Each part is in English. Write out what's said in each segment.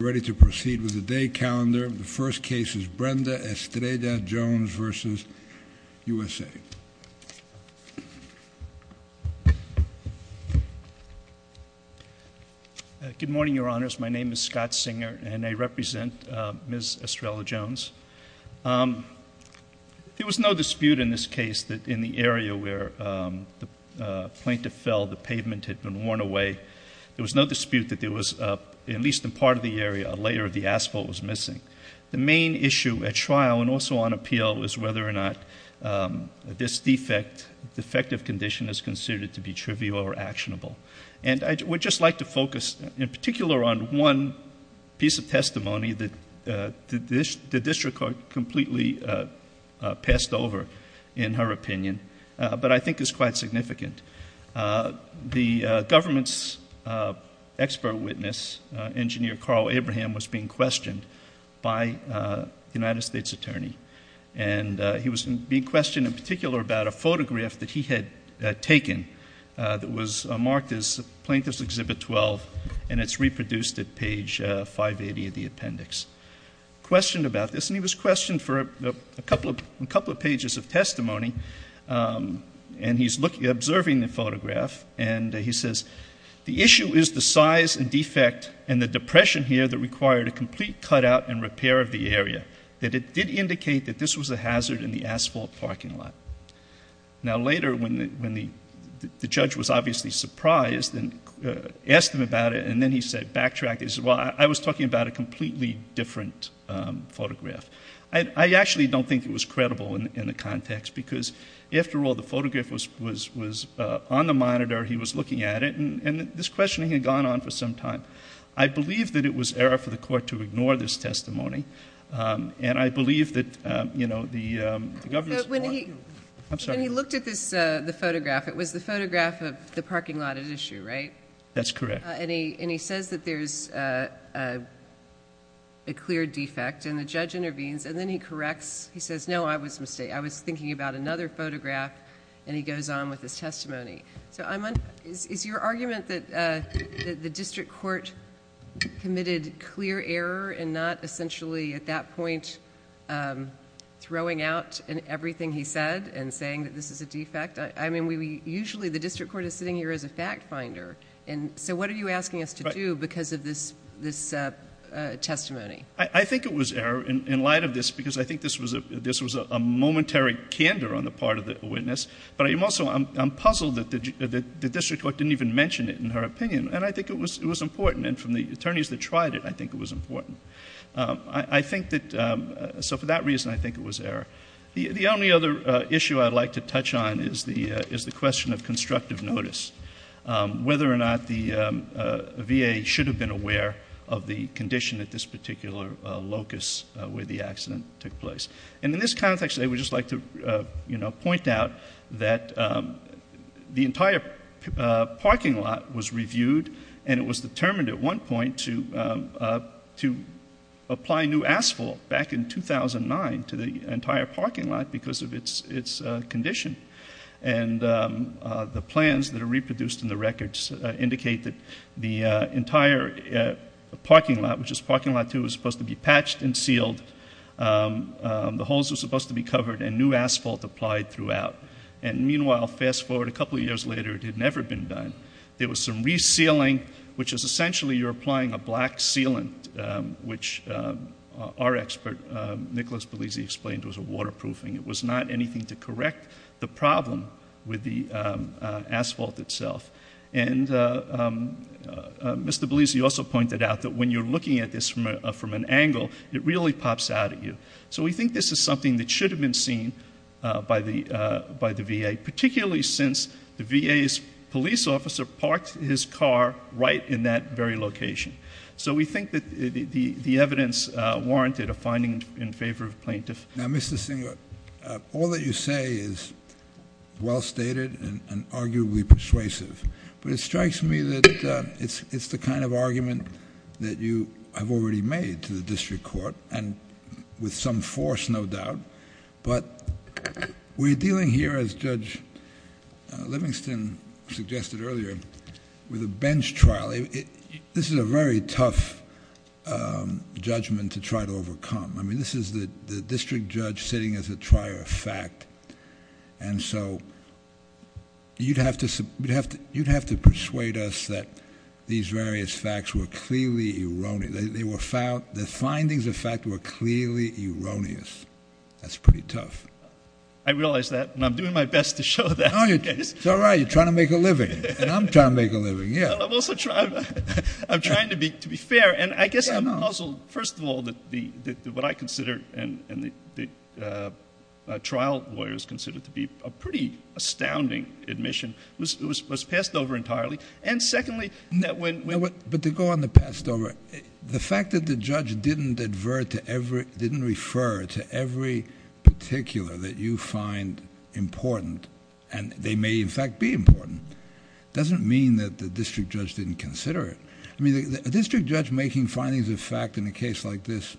Ready to proceed with the day calendar. The first case is Brenda Estrella-Jones v. USA. Good morning, your honors. My name is Scott Singer and I represent Ms. Estrella-Jones. There was no dispute in this case that in the area where the plaintiff fell, the pavement had worn away. There was no dispute that there was, at least in part of the area, a layer of the asphalt was missing. The main issue at trial and also on appeal is whether or not this defect, defective condition is considered to be trivial or actionable. And I would just like to focus in particular on one piece of testimony that the district court completely passed over in her opinion, but I think is quite significant. The government's expert witness, engineer Carl Abraham, was being questioned by the United States attorney. And he was being questioned in particular about a photograph that he had taken that was marked as Plaintiff's Exhibit 12 and it's reproduced at page 580 of the appendix. Questioned about this, and he was testimony, and he's looking, observing the photograph, and he says, the issue is the size and defect and the depression here that required a complete cutout and repair of the area. That it did indicate that this was a hazard in the asphalt parking lot. Now later when the judge was obviously surprised and asked him about it, and then he said, backtracked, he said, well, I was talking about a completely different photograph. I actually don't think it was because after all, the photograph was on the monitor, he was looking at it, and this questioning had gone on for some time. I believe that it was error for the court to ignore this testimony, and I believe that the government's... But when he looked at the photograph, it was the photograph of the parking lot at issue, right? That's correct. And he says that there's a clear defect, and the judge intervenes, and then he corrects, he says, no, I was thinking about another photograph, and he goes on with his testimony. So is your argument that the district court committed clear error and not essentially at that point throwing out everything he said and saying that this is a defect? I mean, usually the district court is sitting here as a fact finder, and so what are you asking us to do because of this testimony? I think it was error in light of this because I think this was a momentary candor on the part of the witness, but also I'm puzzled that the district court didn't even mention it in her opinion, and I think it was important, and from the attorneys that tried it, I think it was important. So for that reason, I think it was error. The only other issue I'd like to touch on is the question of constructive notice, whether or not the VA should have been aware of the condition at this particular locus where the accident took place. And in this context, I would just like to, you know, point out that the entire parking lot was reviewed, and it was determined at one point to apply new asphalt back in 2009 to the entire parking lot because of its condition, and the plans that are reproduced in the records indicate that the entire parking lot, which is parking lot two, was supposed to be patched and sealed. The holes were supposed to be covered, and new asphalt applied throughout. And meanwhile, fast forward a couple of years later, it had never been done. There was some resealing, which is essentially you're applying a black sealant, which our expert, Nicholas Belizzi, explained was a waterproofing. It was not anything to correct the problem with the asphalt itself. And Mr. Belizzi also pointed out that when you're looking at this from an angle, it really pops out at you. So we think this is something that should have been seen by the VA, particularly since the VA's police officer parked his car right in that very location. So we think that the evidence warranted a finding in favor of plaintiff. Now, Mr. Singer, all that you say is well stated and arguably persuasive. But it strikes me that it's the kind of argument that you have already made to the district court, and with some force, no doubt. But we're dealing here, as Judge Livingston suggested earlier, with a bench trial. This is a very tough judgment to try to overcome. I mean, this is the district judge sitting as a trier of fact. And so you'd have to persuade us that these various facts were clearly erroneous. The findings of fact were clearly erroneous. That's pretty tough. I realize that, and I'm doing my best to show that. No, it's all right. You're trying to make a living. And I'm trying to make a living, yeah. Well, I'm also trying to be fair. And I guess I'm puzzled, first of all, that what I consider and the trial lawyers consider to be a pretty astounding admission was passed over entirely. And secondly, that when- But to go on the passed over, the fact that the judge didn't refer to every particular that you consider it. I mean, a district judge making findings of fact in a case like this,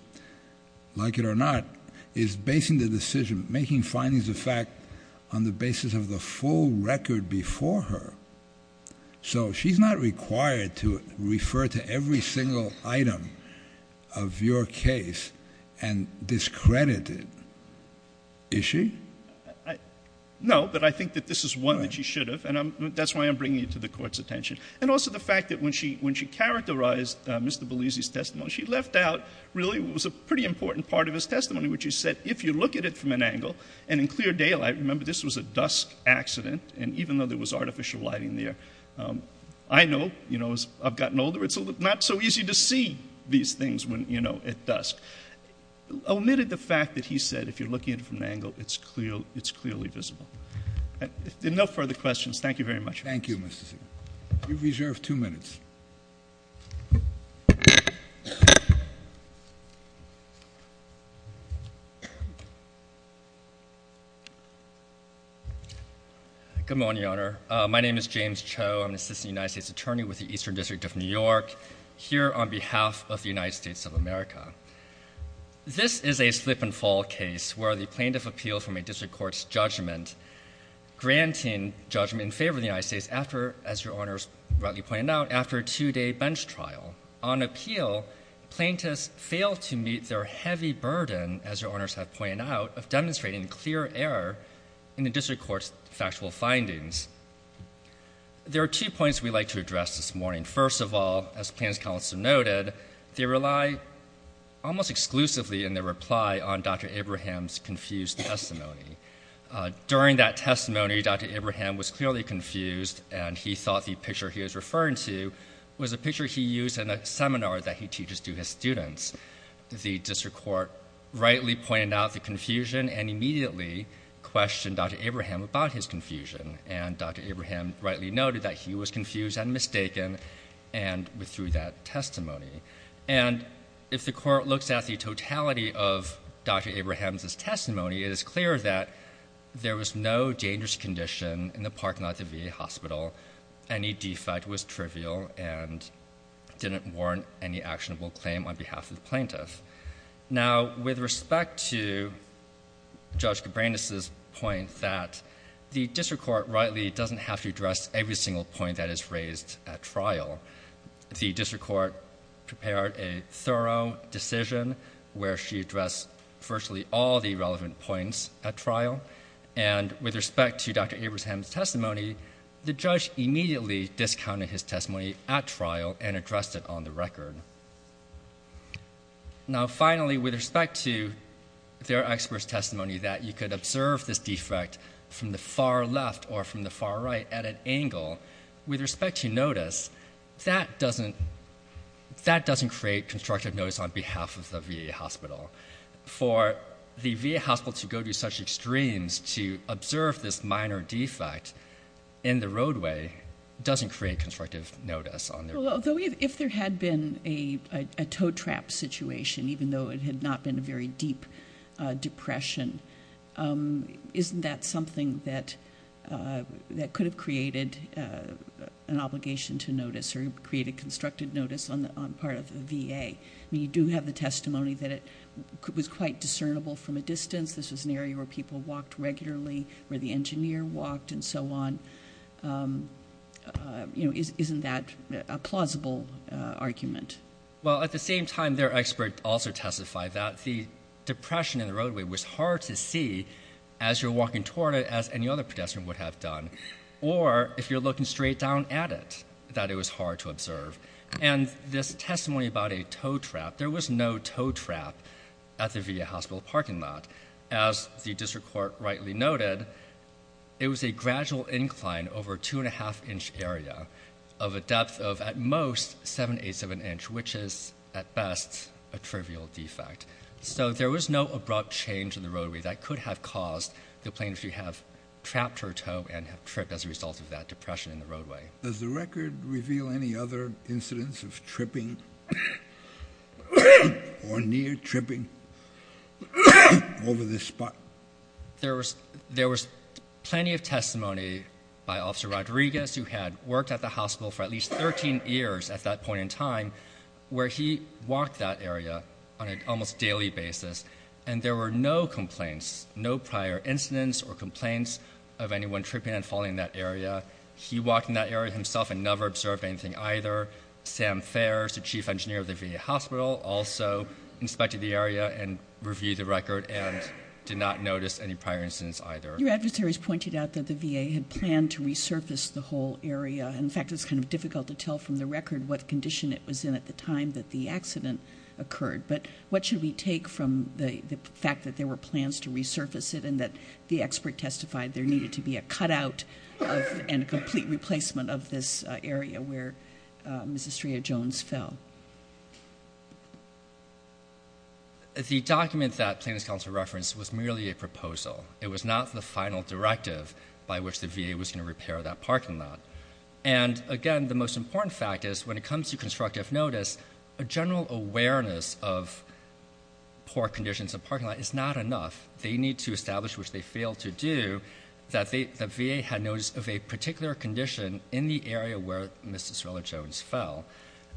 like it or not, is basing the decision, making findings of fact on the basis of the full record before her. So she's not required to refer to every single item of your case and discredit it. Is she? No, but I think that this is one that she should have. And that's why I'm bringing it to the fact that when she characterized Mr. Belisi's testimony, she left out, really, what was a pretty important part of his testimony, which he said, if you look at it from an angle, and in clear daylight, remember, this was a dusk accident, and even though there was artificial lighting there, I know, you know, as I've gotten older, it's not so easy to see these things when, you know, at dusk, omitted the fact that he said, if you're looking at it from an angle, it's clearly visible. No further questions. Thank you very much. Thank you, Mr. Siegel. You've reserved two minutes. Good morning, Your Honor. My name is James Cho. I'm an assistant United States attorney with the Eastern District of New York, here on behalf of the United States of America. This is a slip and fall case where the plaintiff appealed from a district court's judgment, granting judgment in favor of the United States after, as Your Honors rightly pointed out, after a two-day bench trial. On appeal, plaintiffs failed to meet their heavy burden, as Your Honors have pointed out, of demonstrating clear error in the district court's factual findings. There are two points we'd like to address this morning. First of all, as plaintiff's counsel noted, they rely almost exclusively in their reply on Dr. Abraham's confused testimony. During that testimony, Dr. Abraham was clearly confused, and he thought the picture he was referring to was a picture he used in a seminar that he teaches to his students. The district court rightly pointed out the confusion and immediately questioned Dr. Abraham about his confusion. And Dr. Abraham rightly noted that he was confused and mistaken, and withdrew that testimony. And if the court looks at the totality of Dr. Abraham's testimony, it is clear that there was no dangerous condition in the parking lot at the VA hospital. Any defect was trivial and didn't warrant any actionable claim on behalf of the plaintiff. Now, with respect to Judge Cabranes' point that the district court rightly doesn't have to address every single point that is raised at trial. The district court prepared a all the relevant points at trial. And with respect to Dr. Abraham's testimony, the judge immediately discounted his testimony at trial and addressed it on the record. Now, finally, with respect to their expert's testimony that you could observe this defect from the far left or from the far right at an angle, with respect to notice, that doesn't create constructive notice on behalf of the VA hospital. For the VA hospital to go to such extremes to observe this minor defect in the roadway doesn't create constructive notice. If there had been a tow-trap situation, even though it had not been a very deep depression, isn't that something that could have created an obligation to notice or created constructive notice on the part of the VA? I mean, you do have the testimony that it was quite discernible from a distance. This was an area where people walked regularly, where the engineer walked, and so on. Isn't that a plausible argument? Well, at the same time, their expert also testified that the depression in the roadway was hard to see as you're walking toward it, as any other pedestrian would have done, or if you're looking straight down at it, that it was hard to observe. And this testimony about a tow-trap, there was no tow-trap at the VA hospital parking lot. As the district court rightly noted, it was a gradual incline over a two-and-a-half-inch area of a depth of, at most, seven-eighths of an inch, which is, at best, a trivial defect. So there was no abrupt change in tow and trip as a result of that depression in the roadway. Does the record reveal any other incidents of tripping or near tripping over this spot? There was plenty of testimony by Officer Rodriguez, who had worked at the hospital for at least 13 years at that point in time, where he walked that area on an almost daily basis, and there were no complaints, no prior incidents or tripping and falling in that area. He walked in that area himself and never observed anything either. Sam Fares, the chief engineer of the VA hospital, also inspected the area and reviewed the record and did not notice any prior incidents either. Your adversaries pointed out that the VA had planned to resurface the whole area. In fact, it's kind of difficult to tell from the record what condition it was in at the time that the accident occurred, but what should we take from the fact that there were plans to resurface it and that the expert testified there needed to be a cutout and a complete replacement of this area where Ms. Estrella Jones fell? The document that Plaintiff's counsel referenced was merely a proposal. It was not the final directive by which the VA was going to repair that parking lot. And again, the most important fact is when it comes to constructive notice, a general awareness of poor conditions of parking is not enough. They need to establish, which they failed to do, that the VA had notice of a particular condition in the area where Ms. Estrella Jones fell.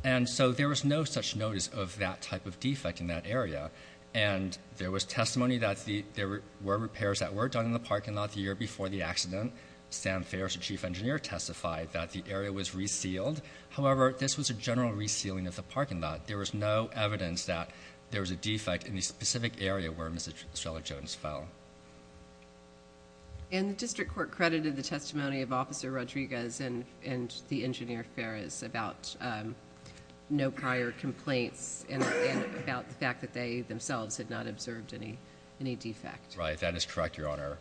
And so there was no such notice of that type of defect in that area. And there was testimony that there were repairs that were done in the parking lot the year before the accident. Sam Fares, the chief engineer, testified that the area was resealed. However, this was a general resealing of the parking lot. There was no notice of that type of defect in the area where Ms. Estrella Jones fell. And the district court credited the testimony of Officer Rodriguez and the engineer Fares about no prior complaints and about the fact that they themselves had not observed any defect? Right. That is correct, Your Honor.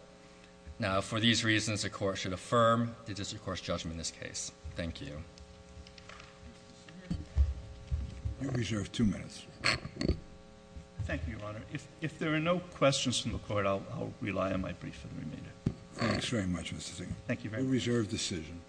Now, for these reasons, the court should affirm the district court's judgment in this case. Thank you. You reserve two minutes. Thank you, Your Honor. If there are no questions from the court, I'll rely on my brief for the remainder. Thanks very much, Mr. Zinke. Thank you very much. You reserve decision.